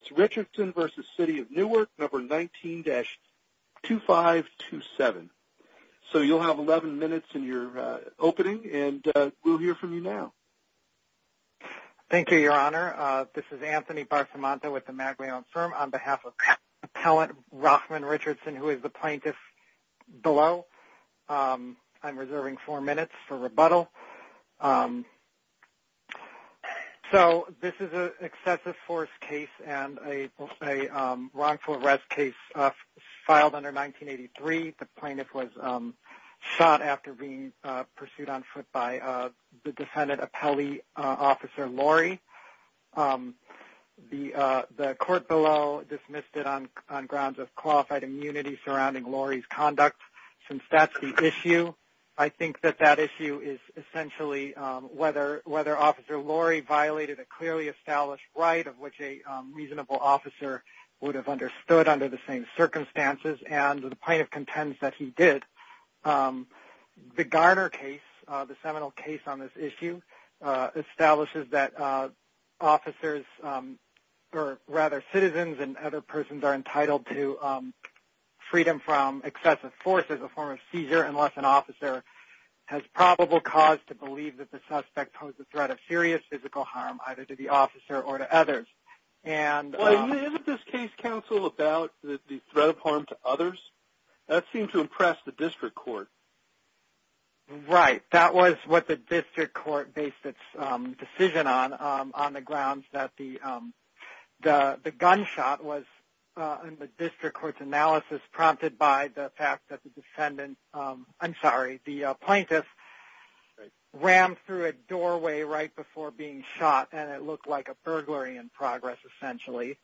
It's Richardson v. City of Newark, number 19-2527. So you'll have 11 minutes in your opening, and we'll hear from you now. Thank you, Your Honor. This is Anthony Barsamanto with the Magdalena Firm. On behalf of Appellant Rochman Richardson, who is the plaintiff below, I'm reserving four minutes for rebuttal. So this is an excessive force case and a wrongful arrest case filed under 1983. The plaintiff was shot after being pursued on foot by the defendant, Appellee Officer Laurie. The court below dismissed it on grounds of qualified immunity surrounding Laurie's conduct. Since that's the issue, I think that that issue is essentially whether Officer Laurie violated a clearly established right of which a reasonable officer would have understood under the same circumstances, and the plaintiff contends that he did. The Garner case, the seminal case on this issue, establishes that officers, or rather citizens and other persons, are entitled to freedom from excessive force as a form of seizure unless an officer has probable cause to believe that the suspect posed a threat of serious physical harm, either to the officer or to others. Isn't this case, counsel, about the threat of harm to others? That seemed to impress the district court. Right. That was what the district court based its decision on, on the grounds that the gunshot was, in the district court's analysis, prompted by the fact that the defendant, I'm sorry, the plaintiff rammed through a doorway right before being shot, and it looked like a burglary in progress, essentially.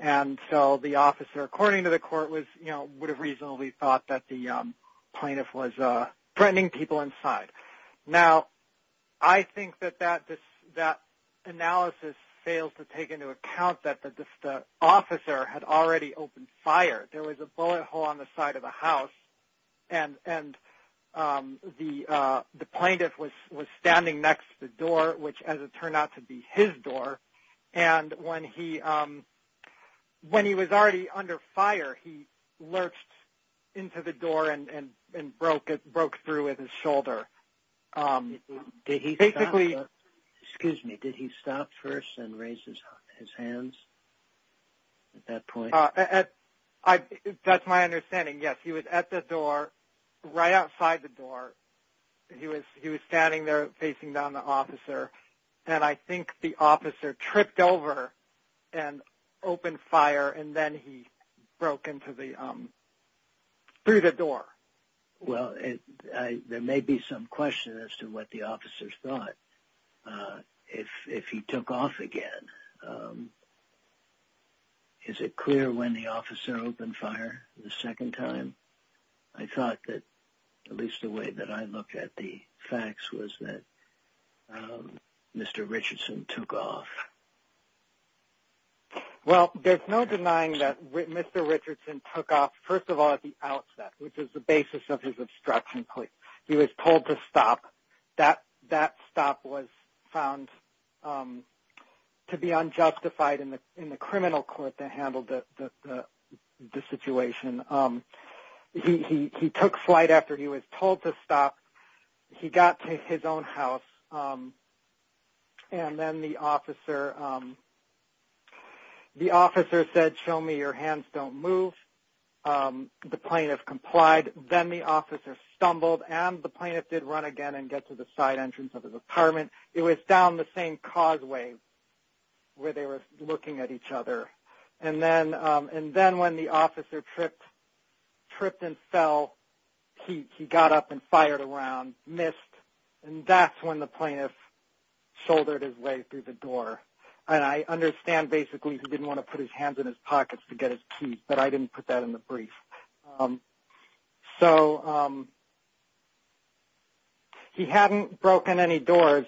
And so the officer, according to the court, would have reasonably thought that the plaintiff was threatening people inside. Now, I think that that analysis fails to take into account that the officer had already opened fire. There was a bullet hole on the side of the house, and the plaintiff was standing next to the door, which as it turned out to be his door, and when he was already under fire he lurched into the door and broke through with his shoulder. Did he stop first and raise his hands at that point? That's my understanding, yes. He was at the door, right outside the door. He was standing there facing down the officer, and I think the officer tripped over and opened fire, and then he broke through the door. Well, there may be some question as to what the officer thought if he took off again. Is it clear when the officer opened fire the second time? I thought that, at least the way that I looked at the facts, was that Mr. Richardson took off. Well, there's no denying that Mr. Richardson took off, first of all, at the outset, which is the basis of his obstruction plea. He was told to stop. That stop was found to be unjustified in the criminal court that handled the situation. He took flight after he was told to stop. He got to his own house, and then the officer said, show me your hands, don't move. The plaintiff complied. Then the officer stumbled, and the plaintiff did run again and get to the side entrance of his apartment. It was down the same causeway where they were looking at each other. Then when the officer tripped and fell, he got up and fired a round, missed, and that's when the plaintiff shouldered his way through the door. I understand basically he didn't want to put his hands in his pockets to get his keys, but I didn't put that in the brief. He hadn't broken any doors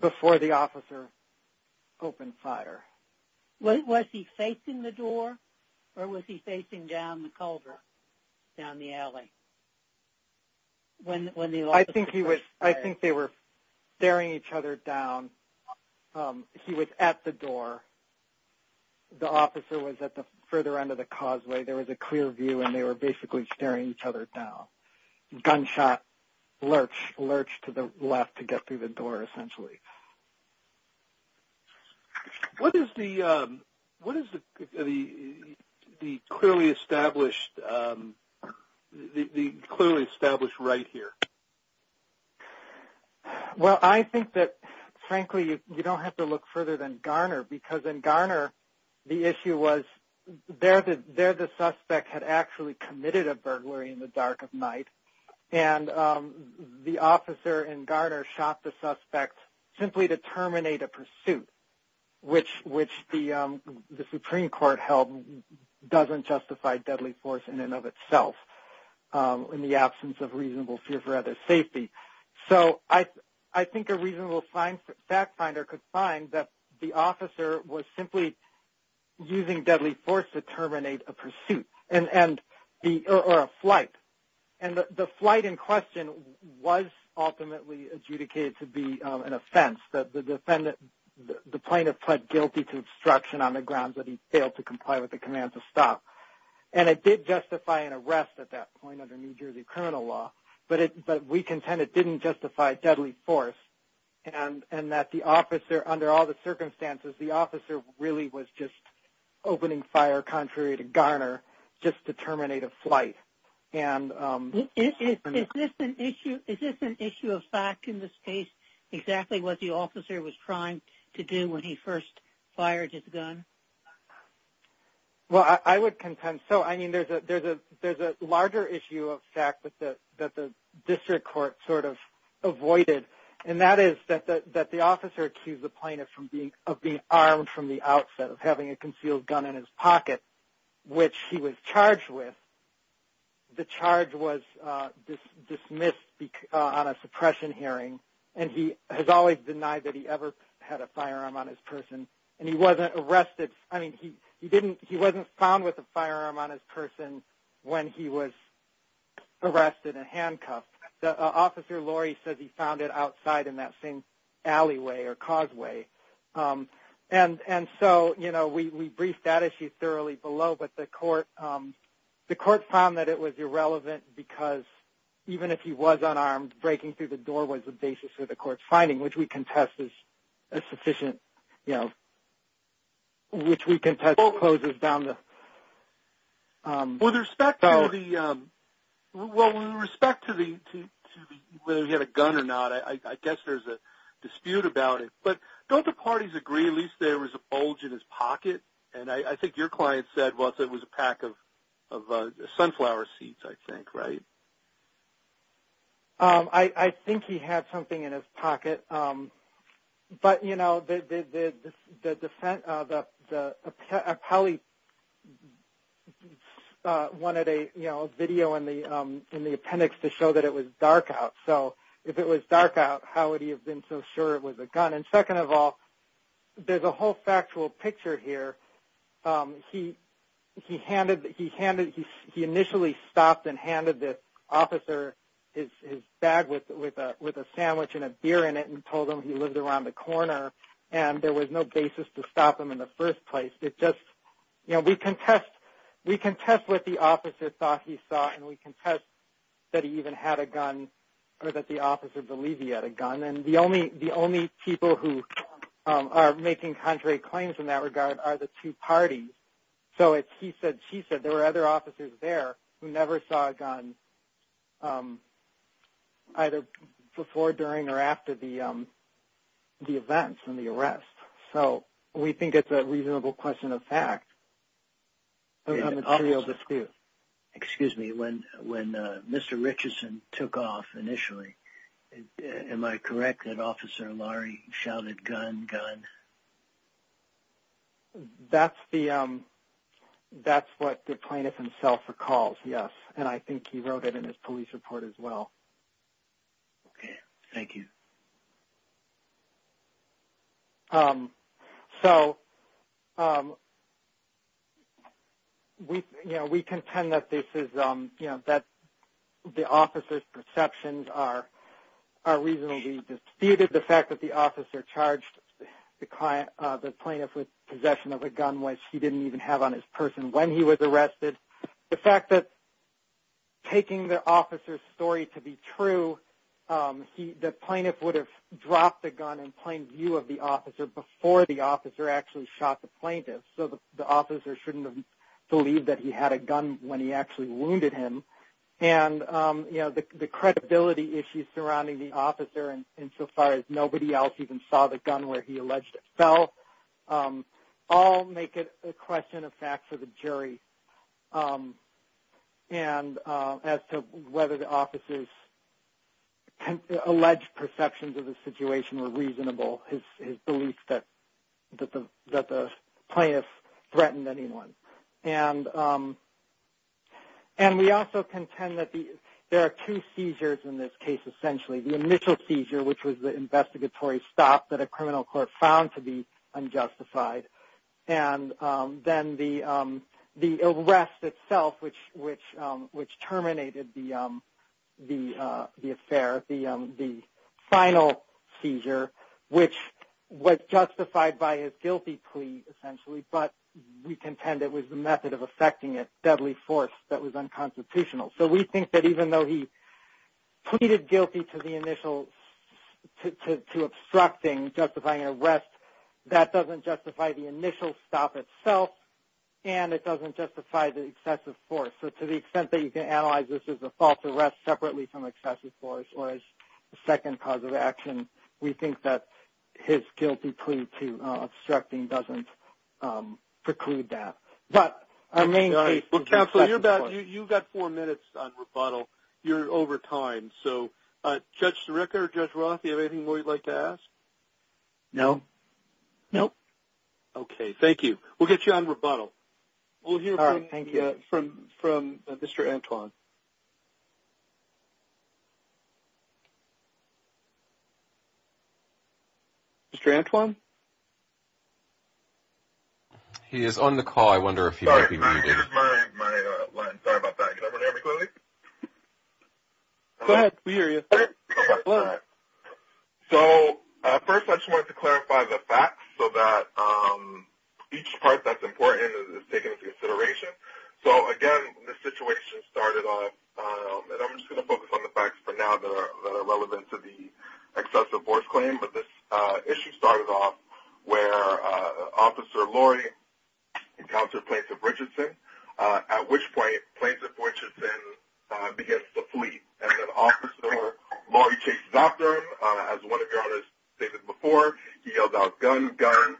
before the officer opened fire. Was he facing the door, or was he facing down the culvert, down the alley? I think they were staring each other down. He was at the door. The officer was at the further end of the causeway. There was a clear view, and they were basically staring each other down. The gunshot lurched to the left to get through the door essentially. What is the clearly established right here? Well, I think that, frankly, you don't have to look further than Garner, because in Garner the issue was there the suspect had actually committed a burglary in the dark of night, and the officer in Garner shot the suspect simply to terminate a pursuit, which the Supreme Court held doesn't justify deadly force in and of itself in the absence of reasonable fear for other's safety. I think a reasonable fact finder could find that the officer was simply using deadly force to terminate a pursuit or a flight. The flight in question was ultimately adjudicated to be an offense. The plaintiff pled guilty to obstruction on the grounds that he failed to comply with the command to stop. It did justify an arrest at that point under New Jersey criminal law, but we contend it didn't justify deadly force and that the officer, under all the circumstances, the officer really was just opening fire contrary to Garner just to terminate a flight. Is this an issue of fact in this case, exactly what the officer was trying to do when he first fired his gun? Well, I would contend so. I mean, there's a larger issue of fact that the district court sort of avoided, and that is that the officer accused the plaintiff of being armed from the outset of having a concealed gun in his pocket, which he was charged with. The charge was dismissed on a suppression hearing, and he has always denied that he ever had a firearm on his person, and he wasn't arrested. I mean, he wasn't found with a firearm on his person when he was arrested and handcuffed. The officer, Lori, says he found it outside in that same alleyway or causeway. And so, you know, we briefed that issue thoroughly below, but the court found that it was irrelevant because even if he was unarmed, breaking through the door was the basis for the court's finding, which we contest as sufficient, you know, which we contest closes down the... With respect to the, well, with respect to whether he had a gun or not, I guess there's a dispute about it. But don't the parties agree at least there was a bulge in his pocket? And I think your client said it was a pack of sunflower seeds, I think, right? I think he had something in his pocket. But, you know, the defendant, the appellee, wanted a, you know, video in the appendix to show that it was dark out. So if it was dark out, how would he have been so sure it was a gun? And second of all, there's a whole factual picture here. He initially stopped and handed the officer his bag with a sandwich and a beer in it and told him he lived around the corner, and there was no basis to stop him in the first place. It just, you know, we contest what the officer thought he saw, and we contest that he even had a gun or that the officer believed he had a gun. And the only people who are making contrary claims in that regard are the two parties. So he said, she said there were other officers there who never saw a gun either before, during, or after the events and the arrest. So we think it's a reasonable question of fact. There's a material dispute. Excuse me. When Mr. Richardson took off initially, am I correct that Officer Lahrie shouted, gun, gun? That's what the plaintiff himself recalls, yes. And I think he wrote it in his police report as well. Okay. Thank you. So, you know, we contend that this is, you know, that the officer's perceptions are reasonably disputed. The fact that the officer charged the plaintiff with possession of a gun, which he didn't even have on his person when he was arrested. The fact that taking the officer's story to be true, the plaintiff would have dropped the gun in plain view of the officer before the officer actually shot the plaintiff. So the officer shouldn't have believed that he had a gun when he actually wounded him. And, you know, the credibility issues surrounding the officer insofar as nobody else even saw the gun where he alleged it fell all make it a question of fact for the jury. And as to whether the officer's alleged perceptions of the situation were reasonable, his belief that the plaintiff threatened anyone. And we also contend that there are two seizures in this case, essentially. The initial seizure, which was the investigatory stop that a criminal court found to be unjustified. And then the arrest itself, which terminated the affair, the final seizure, which was justified by his guilty plea, essentially, but we contend it was the method of effecting it, deadly force, that was unconstitutional. So we think that even though he pleaded guilty to the initial, to obstructing, justifying an arrest, that doesn't justify the initial stop itself and it doesn't justify the excessive force. So to the extent that you can analyze this as a false arrest separately from excessive force or as a second cause of action, we think that his guilty plea to obstructing doesn't preclude that. But our main case is excessive force. Well, Counselor, you've got four minutes on rebuttal. You're over time. So Judge Sirica or Judge Roth, do you have anything more you'd like to ask? No. No. Okay, thank you. We'll get you on rebuttal. All right, thank you. We'll hear from Mr. Antwon. Mr. Antwon? He is on the call. I wonder if he might be muted. Sorry, this is my line. Sorry about that. Can everyone hear me clearly? Go ahead. We hear you. So first I just wanted to clarify the facts so that each part that's important is taken into consideration. So, again, this situation started off, and I'm just going to focus on the facts for now that are relevant to the excessive force claim, but this issue started off where Officer Lori encountered Plaintiff Richardson, at which point Plaintiff Richardson begins to flee. And then Officer Lori chases after him. As one of your owners stated before, he yells out, Gun, gun.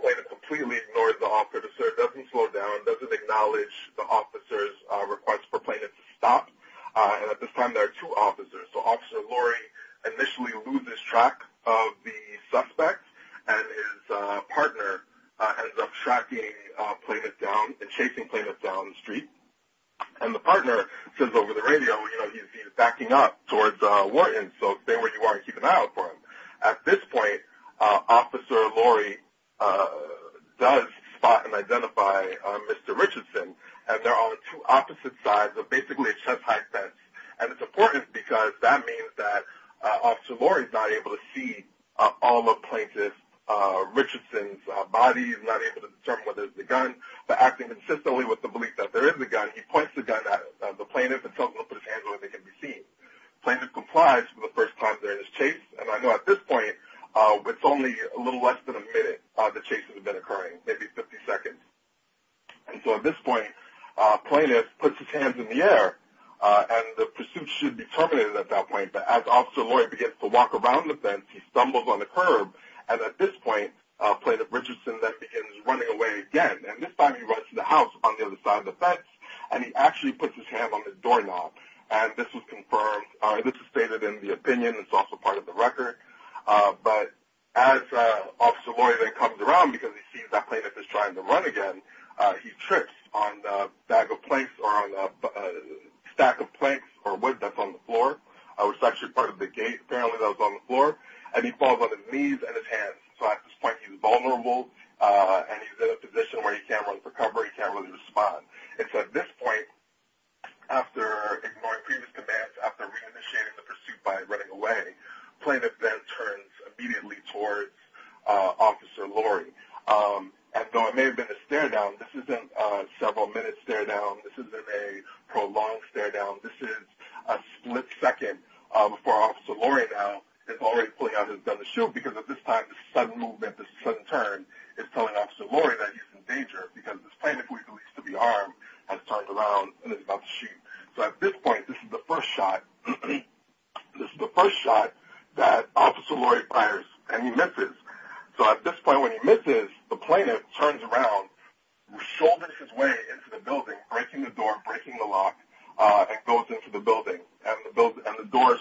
Plaintiff completely ignores the officer, doesn't slow down, doesn't acknowledge the officer's request for Plaintiff to stop. And at this time there are two officers. So Officer Lori initially loses track of the suspect, and his partner ends up tracking Plaintiff down and chasing Plaintiff down the street. And the partner says over the radio, you know, he's backing up towards Wharton, so stay where you are and keep an eye out for him. At this point Officer Lori does spot and identify Mr. Richardson, and they're on two opposite sides of basically a chest-high fence. And it's important because that means that Officer Lori is not able to see all of Plaintiff Richardson's body, he's not able to determine whether it's the gun. But acting consistently with the belief that there is a gun, he points the gun at the plaintiff and tells him to put his hands where they can be seen. Plaintiff complies for the first time during his chase, and I know at this point it's only a little less than a minute, the chase has been occurring, maybe 50 seconds. And so at this point Plaintiff puts his hands in the air and the pursuit should be terminated at that point. But as Officer Lori begins to walk around the fence, he stumbles on the curb, and at this point Plaintiff Richardson then begins running away again. And this time he runs to the house on the other side of the fence, and he actually puts his hands on the doorknob, and this was confirmed. This is stated in the opinion, it's also part of the record. But as Officer Lori then comes around because he sees that Plaintiff is trying to run again, he trips on a bag of planks or on a stack of planks or wood that's on the floor, which is actually part of the gate, apparently that was on the floor, and he falls on his knees and his hands. So at this point he's vulnerable, and he's in a position where he can't run for cover, he can't really respond. It's at this point, after ignoring previous commands, after reinitiating the pursuit by running away, Plaintiff then turns immediately towards Officer Lori. And though it may have been a stare-down, this isn't a several-minute stare-down, this isn't a prolonged stare-down, this is a split second before Officer Lori now is already pulling out his gun to shoot because at this time the sudden movement, the sudden turn is telling Officer Lori that he's in danger because this Plaintiff, who he believes to be armed, has turned around and is about to shoot. So at this point, this is the first shot. This is the first shot that Officer Lori fires, and he misses. So at this point, when he misses, the Plaintiff turns around, shoulders his way into the building, breaking the door, breaking the lock, and goes into the building, and the door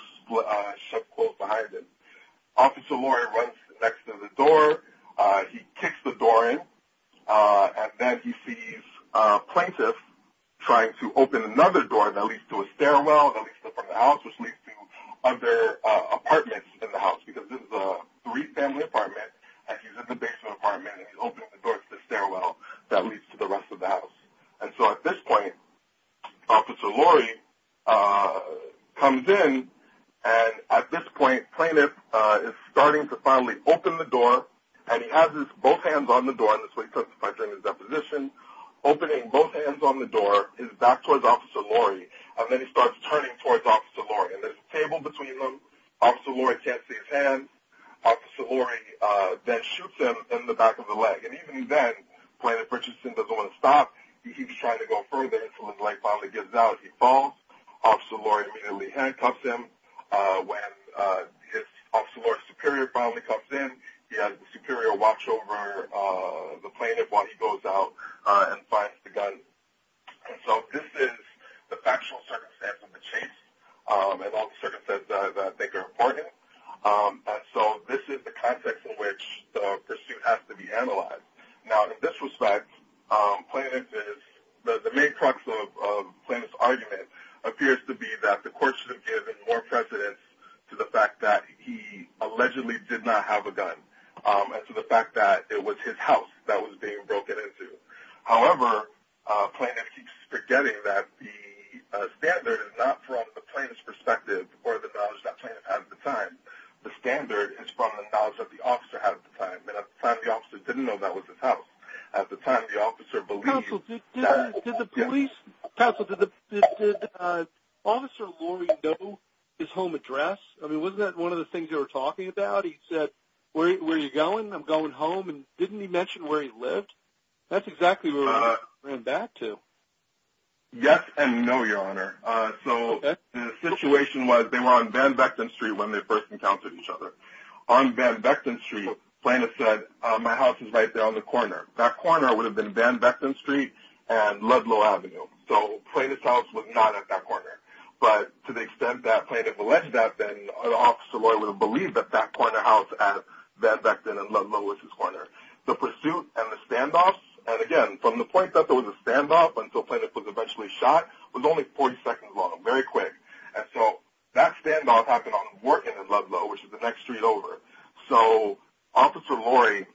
shuts closed behind him. Officer Lori runs next to the door, he kicks the door in, and then he sees Plaintiff trying to open another door that leads to a stairwell, that leads to the front of the house, which leads to other apartments in the house because this is a three-family apartment, and he's in the basement apartment, and he's opening the door to the stairwell that leads to the rest of the house. And so at this point, Officer Lori comes in, and at this point, Plaintiff is starting to finally open the door, and he has his both hands on the door, and this is what he testified during his deposition, opening both hands on the door, he's back towards Officer Lori, and then he starts turning towards Officer Lori, and there's a table between them. Officer Lori can't see his hands. Officer Lori then shoots him in the back of the leg, and even then, Plaintiff Richardson doesn't want to stop. He keeps trying to go further until his leg finally gives out. He falls. Officer Lori immediately handcuffs him. When Officer Lori's superior finally comes in, he has the superior watch over the Plaintiff while he goes out and finds the gun. And so this is the factual circumstance of the chase, and all the circumstances that I think are important. So this is the context in which the pursuit has to be analyzed. Now in this respect, Plaintiff is the main crux of Plaintiff's argument appears to be that the court should have given more precedence to the fact that he allegedly did not have a gun and to the fact that it was his house that was being broken into. However, Plaintiff keeps forgetting that the standard is not from the plaintiff's perspective or the knowledge that the plaintiff had at the time. The standard is from the knowledge that the officer had at the time. And at the time, the officer didn't know that was his house. At the time, the officer believed that he had a gun. Counsel, did Officer Lori know his home address? I mean, wasn't that one of the things you were talking about? He said, where are you going? I'm going home. And didn't he mention where he lived? That's exactly where he ran back to. Yes and no, Your Honor. So the situation was they were on Van Vechten Street when they first encountered each other. On Van Vechten Street, Plaintiff said, my house is right there on the corner. That corner would have been Van Vechten Street and Ludlow Avenue. So Plaintiff's house was not at that corner. But to the extent that Plaintiff alleged that, then Officer Lori would have believed that that corner house at Van Vechten and Ludlow was his corner. The pursuit and the standoffs, and, again, from the point that there was a standoff until Plaintiff was eventually shot, was only 40 seconds long, very quick. And so that standoff happened on Working and Ludlow, which is the next street over. So Officer Lori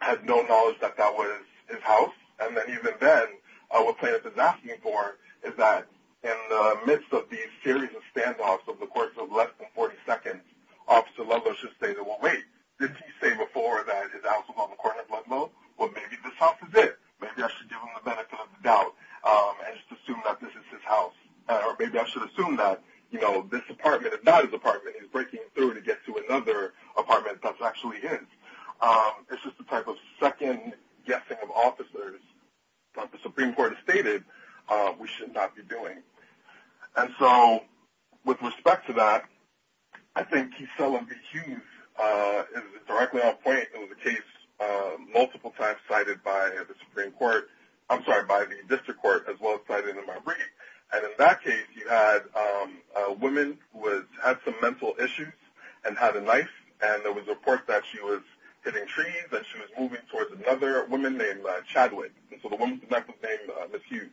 had no knowledge that that was his house. And even then, what Plaintiff is asking for is that in the midst of these series of standoffs over the course of less than 40 seconds, Officer Ludlow should say, well, wait, did he say before that his house was on the corner of Ludlow? Well, maybe this house is it. Maybe I should give him the benefit of the doubt and just assume that this is his house. Or maybe I should assume that, you know, this apartment, if not his apartment, he's breaking through to get to another apartment that's actually his. It's just a type of second guessing of officers. But the Supreme Court has stated we should not be doing. And so with respect to that, I think he's selling the Hughes directly on point. It was a case multiple times cited by the Supreme Court. I'm sorry, by the district court as well as cited in my brief. And in that case, you had a woman who had some mental issues and had a knife, and there was a report that she was hitting trees and she was moving towards another woman named Chadwick. And so the woman's name was named Miss Hughes.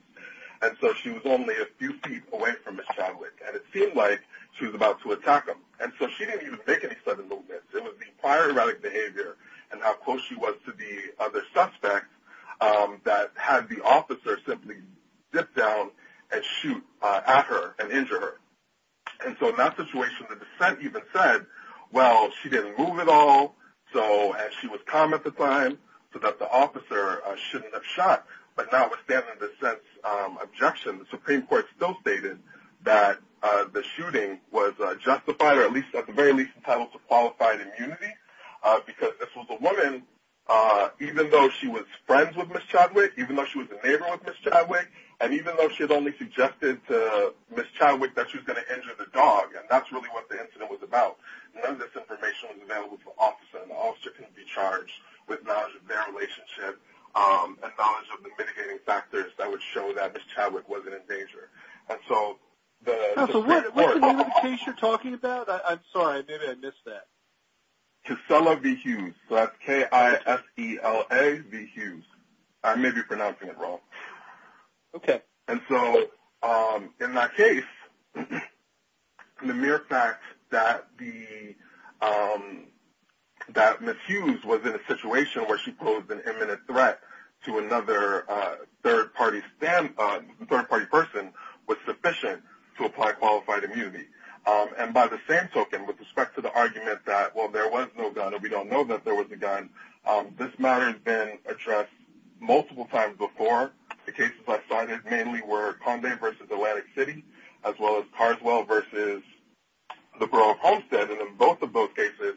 And so she was only a few feet away from Miss Chadwick. And it seemed like she was about to attack him. And so she didn't even make any sudden movements. It was the prior erratic behavior and how close she was to the other suspect that had the officer simply zip down and shoot at her and injure her. And so in that situation, the dissent even said, well, she didn't move at all, and she was calm at the time, so that the officer shouldn't have shot. But notwithstanding the dissent's objection, the Supreme Court still stated that the shooting was justified or at the very least entitled to qualified immunity because this was a woman, even though she was friends with Miss Chadwick, even though she was a neighbor with Miss Chadwick, and even though she had only suggested to Miss Chadwick that she was going to injure the dog. And that's really what the incident was about. None of this information was available to the officer, and the officer couldn't be charged with knowledge of their relationship and knowledge of the mitigating factors that would show that Miss Chadwick wasn't in danger. And so the Supreme Court – So what's the name of the case you're talking about? I'm sorry, maybe I missed that. Casella v. Hughes. So that's K-I-S-E-L-A v. Hughes. I may be pronouncing it wrong. Okay. And so in that case, the mere fact that Miss Hughes was in a situation where she posed an imminent threat to another third-party person was sufficient to apply qualified immunity. And by the same token, with respect to the argument that, well, there was no gun or we don't know that there was a gun, this matter has been addressed multiple times before. The cases I cited mainly were Condé v. Atlantic City, as well as Carswell v. the Borough of Homestead. And in both of those cases,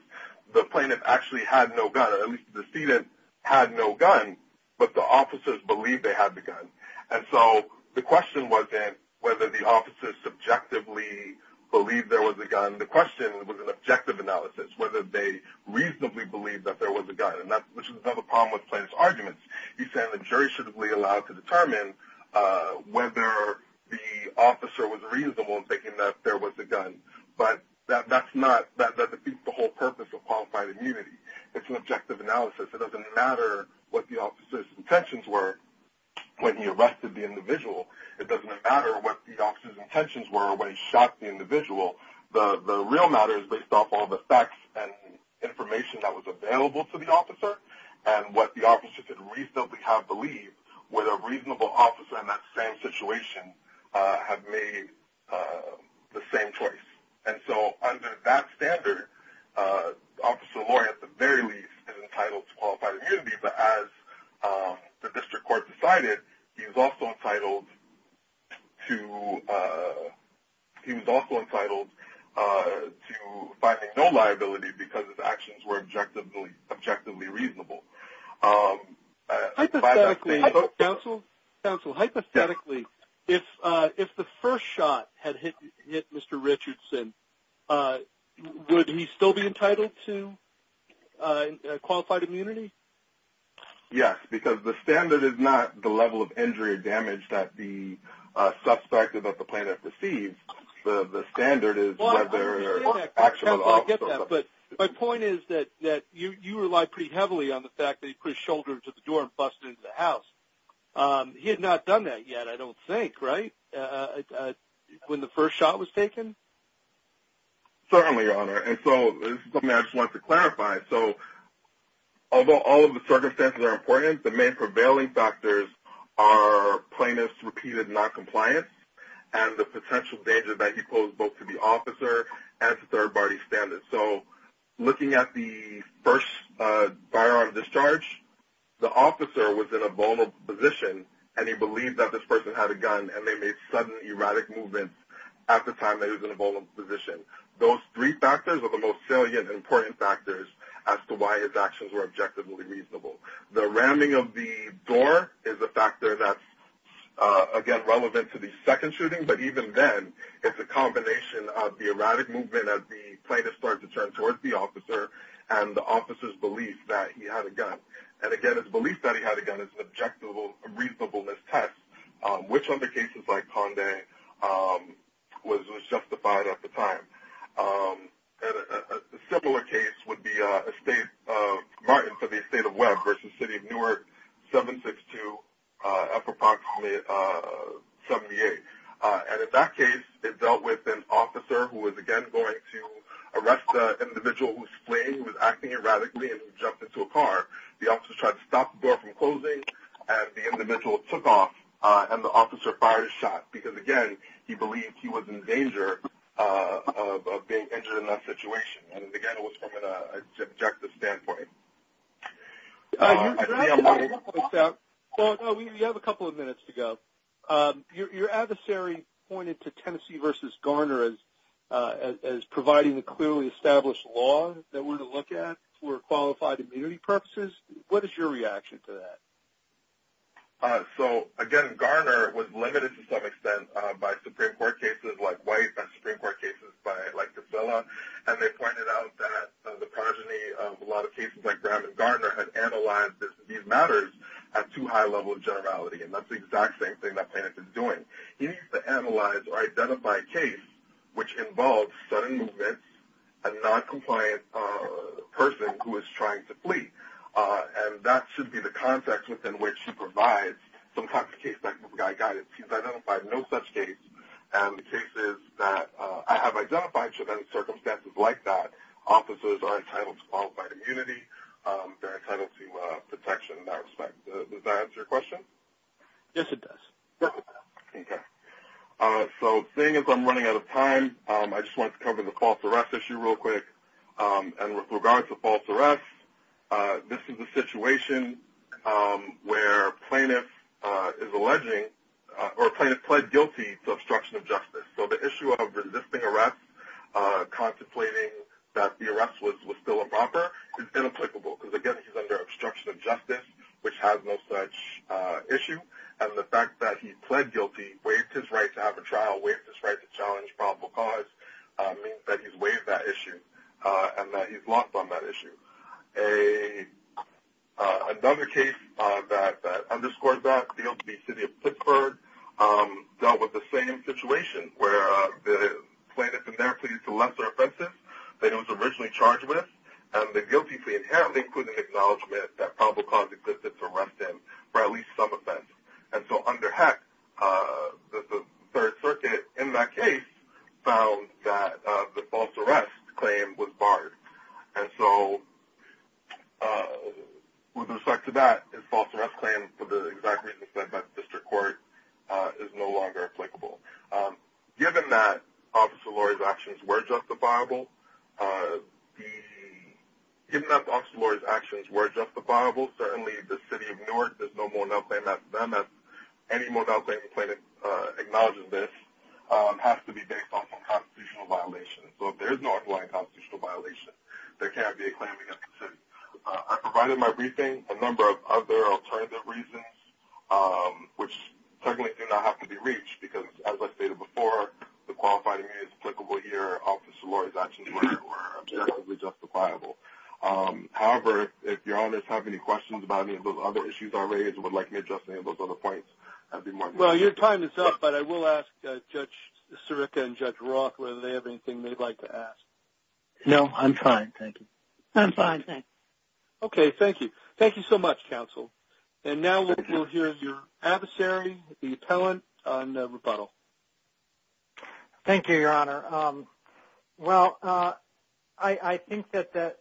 the plaintiff actually had no gun, or at least the decedent had no gun, but the officers believed they had the gun. And so the question wasn't whether the officers subjectively believed there was a gun. The question was an objective analysis, whether they reasonably believed that there was a gun. And that's another problem with plaintiff's arguments. He's saying the jury should be allowed to determine whether the officer was reasonable in thinking that there was a gun. But that defeats the whole purpose of qualified immunity. It's an objective analysis. It doesn't matter what the officer's intentions were when he arrested the individual. It doesn't matter what the officer's intentions were when he shot the individual. The real matter is based off all the facts and information that was available to the officer and what the officer could reasonably have believed, whether a reasonable officer in that same situation had made the same choice. And so under that standard, Officer Lauri, at the very least, is entitled to qualified immunity. But as the district court decided, he was also entitled to finding no liability because his actions were objectively reasonable. Counsel, hypothetically, if the first shot had hit Mr. Richardson, would he still be entitled to qualified immunity? Yes, because the standard is not the level of injury or damage that the suspect or that the plaintiff received. The standard is whether the action was off. But my point is that you relied pretty heavily on the fact that he pushed his shoulder into the door and busted into the house. He had not done that yet, I don't think, right, when the first shot was taken? Certainly, Your Honor. And so this is something I just wanted to clarify. So although all of the circumstances are important, the main prevailing factors are plaintiff's repeated noncompliance and the potential danger that he posed both to the officer and to third-party standards. So looking at the first firearm discharge, the officer was in a vulnerable position, and he believed that this person had a gun and they made sudden erratic movements at the time that he was in a vulnerable position. Those three factors are the most salient and important factors as to why his actions were objectively reasonable. The ramming of the door is a factor that's, again, relevant to the second shooting, but even then it's a combination of the erratic movement as the plaintiff started to turn towards the officer and the officer's belief that he had a gun. And, again, his belief that he had a gun is an objective reasonableness test, which under cases like Condé was justified at the time. A similar case would be Martin for the estate of Webb versus City of Newark 762 up approximately 78. And in that case, it dealt with an officer who was, again, going to arrest the individual who was fleeing, who was acting erratically, and who jumped into a car. The officer tried to stop the door from closing, and the individual took off, and the officer fired his shot, because, again, he believed he was in danger of being injured in that situation. And, again, it was from an objective standpoint. You have a couple of minutes to go. Your adversary pointed to Tennessee versus Garner as providing the clearly established law that we're going to look at for qualified immunity purposes. What is your reaction to that? So, again, Garner was limited to some extent by Supreme Court cases like White and Supreme Court cases like Gisela, and they pointed out that the progeny of a lot of cases like Graham and Garner had analyzed these matters at too high a level of generality, and that's the exact same thing that Plaintiff is doing. He needs to analyze or identify a case which involves sudden movements, a noncompliant person who is trying to flee. And that should be the context within which he provides some type of case-by-case guidance. He's identified no such case, and the cases that I have identified should end in circumstances like that. Officers are entitled to qualified immunity. They're entitled to protection in that respect. Does that answer your question? Yes, it does. Okay. So, seeing as I'm running out of time, I just wanted to cover the false arrest issue real quick. And with regard to false arrests, this is a situation where Plaintiff is alleging or Plaintiff pled guilty to obstruction of justice. So the issue of resisting arrest, contemplating that the arrest was still improper, is inapplicable, because, again, he's under obstruction of justice, which has no such issue. And the fact that he pled guilty, waived his right to have a trial, waived his right to challenge probable cause, means that he's waived that issue and that he's lost on that issue. Another case that underscores that, failed to be city of Pittsburgh, dealt with the same situation, where the plaintiff in there pleaded to lesser offenses than he was originally charged with, and the guilty plea inherently included an acknowledgement that probable cause existed to arrest him for at least some offense. And so under HEC, the Third Circuit, in that case, found that the false arrest claim was barred. And so, with respect to that, the false arrest claim, for the exact reasons said by the District Court, is no longer applicable. Given that Officer Lurie's actions were justifiable, given that Officer Lurie's actions were justifiable, certainly the city of Newark, there's no more than a claim after them. Any more than a claim that acknowledges this has to be based off of a constitutional violation. So if there's no underlying constitutional violation, there can't be a claim against the city. I provided in my briefing a number of other alternative reasons, which certainly do not have to be reached, because, as I stated before, the qualified immunity is applicable here, Officer Lurie's actions were objectively justifiable. However, if Your Honors have any questions about any of those other issues I raised or would like me to address any of those other points, that would be more than welcome. Well, your time is up, but I will ask Judge Sirica and Judge Roth whether they have anything they'd like to ask. No, I'm fine, thank you. I'm fine, thanks. Okay, thank you. Thank you so much, counsel. And now we'll hear your adversary, the appellant, on the rebuttal. Thank you, Your Honor. Well, I think that the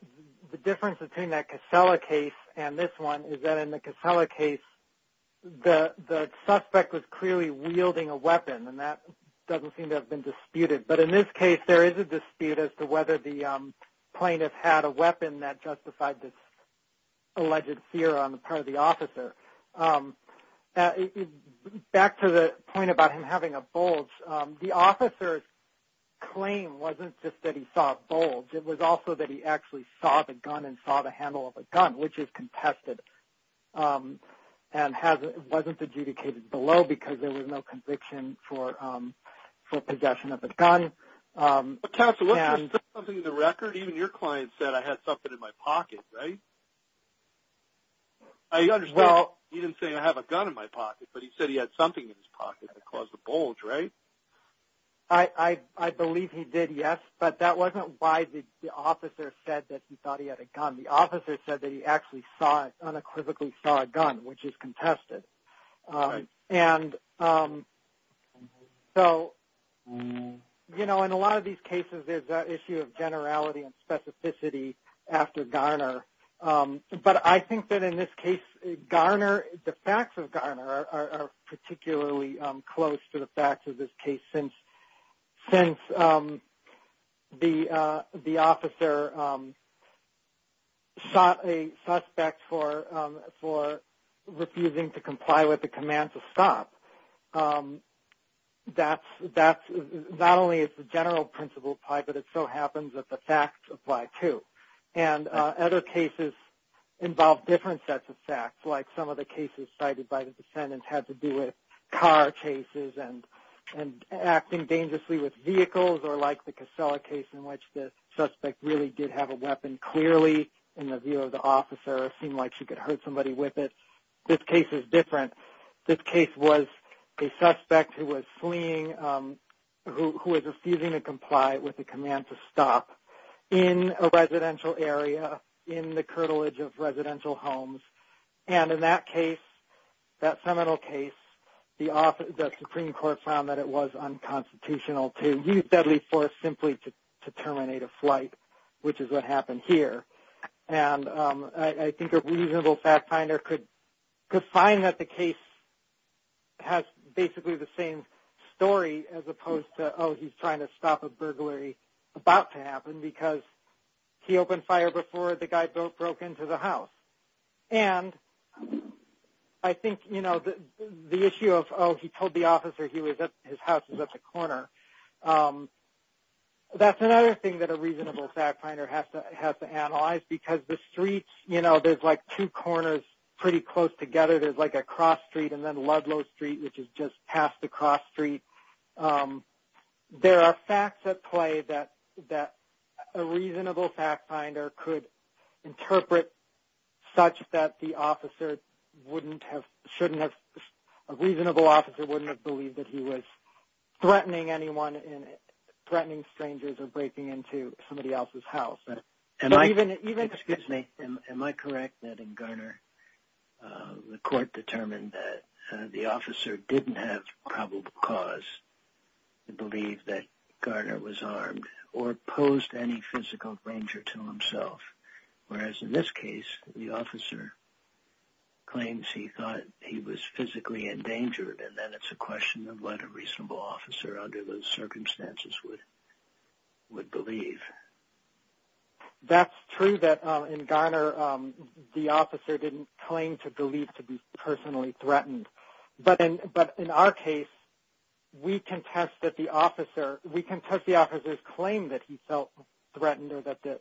difference between that Casella case and this one is that in the Casella case, the suspect was clearly wielding a weapon, and that doesn't seem to have been disputed. But in this case, there is a dispute as to whether the plaintiff had a weapon that justified this alleged fear on the part of the officer. Back to the point about him having a bulge, the officer's claim wasn't just that he saw a bulge, it was also that he actually saw the gun and saw the handle of the gun, which is contested and wasn't adjudicated below because there was no conviction for possession of the gun. But, counsel, wasn't there something in the record? Even your client said, I had something in my pocket, right? I understand he didn't say, I have a gun in my pocket, but he said he had something in his pocket that caused the bulge, right? I believe he did, yes. But that wasn't why the officer said that he thought he had a gun. The officer said that he actually unequivocally saw a gun, which is contested. In a lot of these cases, there's that issue of generality and specificity after Garner. But I think that in this case, the facts of Garner are particularly close to the facts of this case, since the officer shot a suspect for refusing to comply with the command to stop. Not only does the general principle apply, but it so happens that the facts apply too. And other cases involve different sets of facts, like some of the cases cited by the defendants had to do with car cases and acting dangerously with vehicles, or like the Casella case in which the suspect really did have a weapon, clearly, in the view of the officer, it seemed like she could hurt somebody with it. This case is different. This case was a suspect who was fleeing, who was refusing to comply with the command to stop in a residential area, in the curtilage of residential homes. And in that case, that seminal case, the Supreme Court found that it was unconstitutional to use deadly force simply to terminate a flight, which is what happened here. And I think a reasonable fact finder could find that the case has basically the same story as opposed to, oh, he's trying to stop a burglary about to happen because he opened fire before the guy broke into the house. And I think, you know, the issue of, oh, he told the officer his house was at the corner, that's another thing that a reasonable fact finder has to analyze, because the streets, you know, there's like two corners pretty close together. There's like a cross street and then Ludlow Street, which is just past the cross street. There are facts at play that a reasonable fact finder could interpret such that the officer wouldn't have, a reasonable officer wouldn't have believed that he was threatening anyone, threatening strangers or breaking into somebody else's house. Excuse me, am I correct that in Garner, the court determined that the officer didn't have probable cause to believe that Garner was armed or posed any physical danger to himself, whereas in this case, the officer claims he thought he was physically endangered and then it's a question of what a reasonable officer under those circumstances would believe. That's true that in Garner, the officer didn't claim to believe to be personally threatened. But in our case, we contest that the officer, we contest the officer's claim that he felt threatened or that the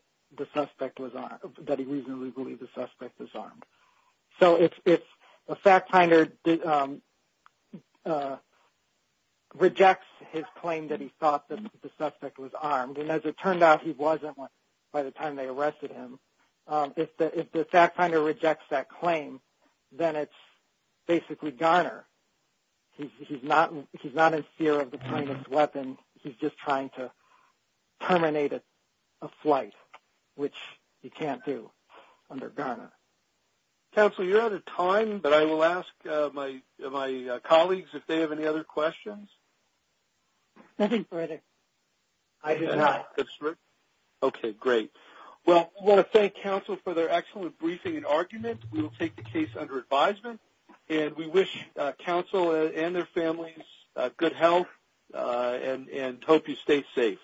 suspect was armed, that he reasonably believed the suspect was armed. So if the fact finder rejects his claim that he thought that the suspect was armed, and as it turned out, he wasn't by the time they arrested him, if the fact finder rejects that claim, then it's basically Garner. He's not in fear of the plaintiff's weapon. He's just trying to terminate a flight, which he can't do under Garner. Counsel, you're out of time, but I will ask my colleagues if they have any other questions. Nothing further. I do not. Okay, great. Well, I want to thank counsel for their excellent briefing and argument. We will take the case under advisement. And we wish counsel and their families good health and hope you stay safe.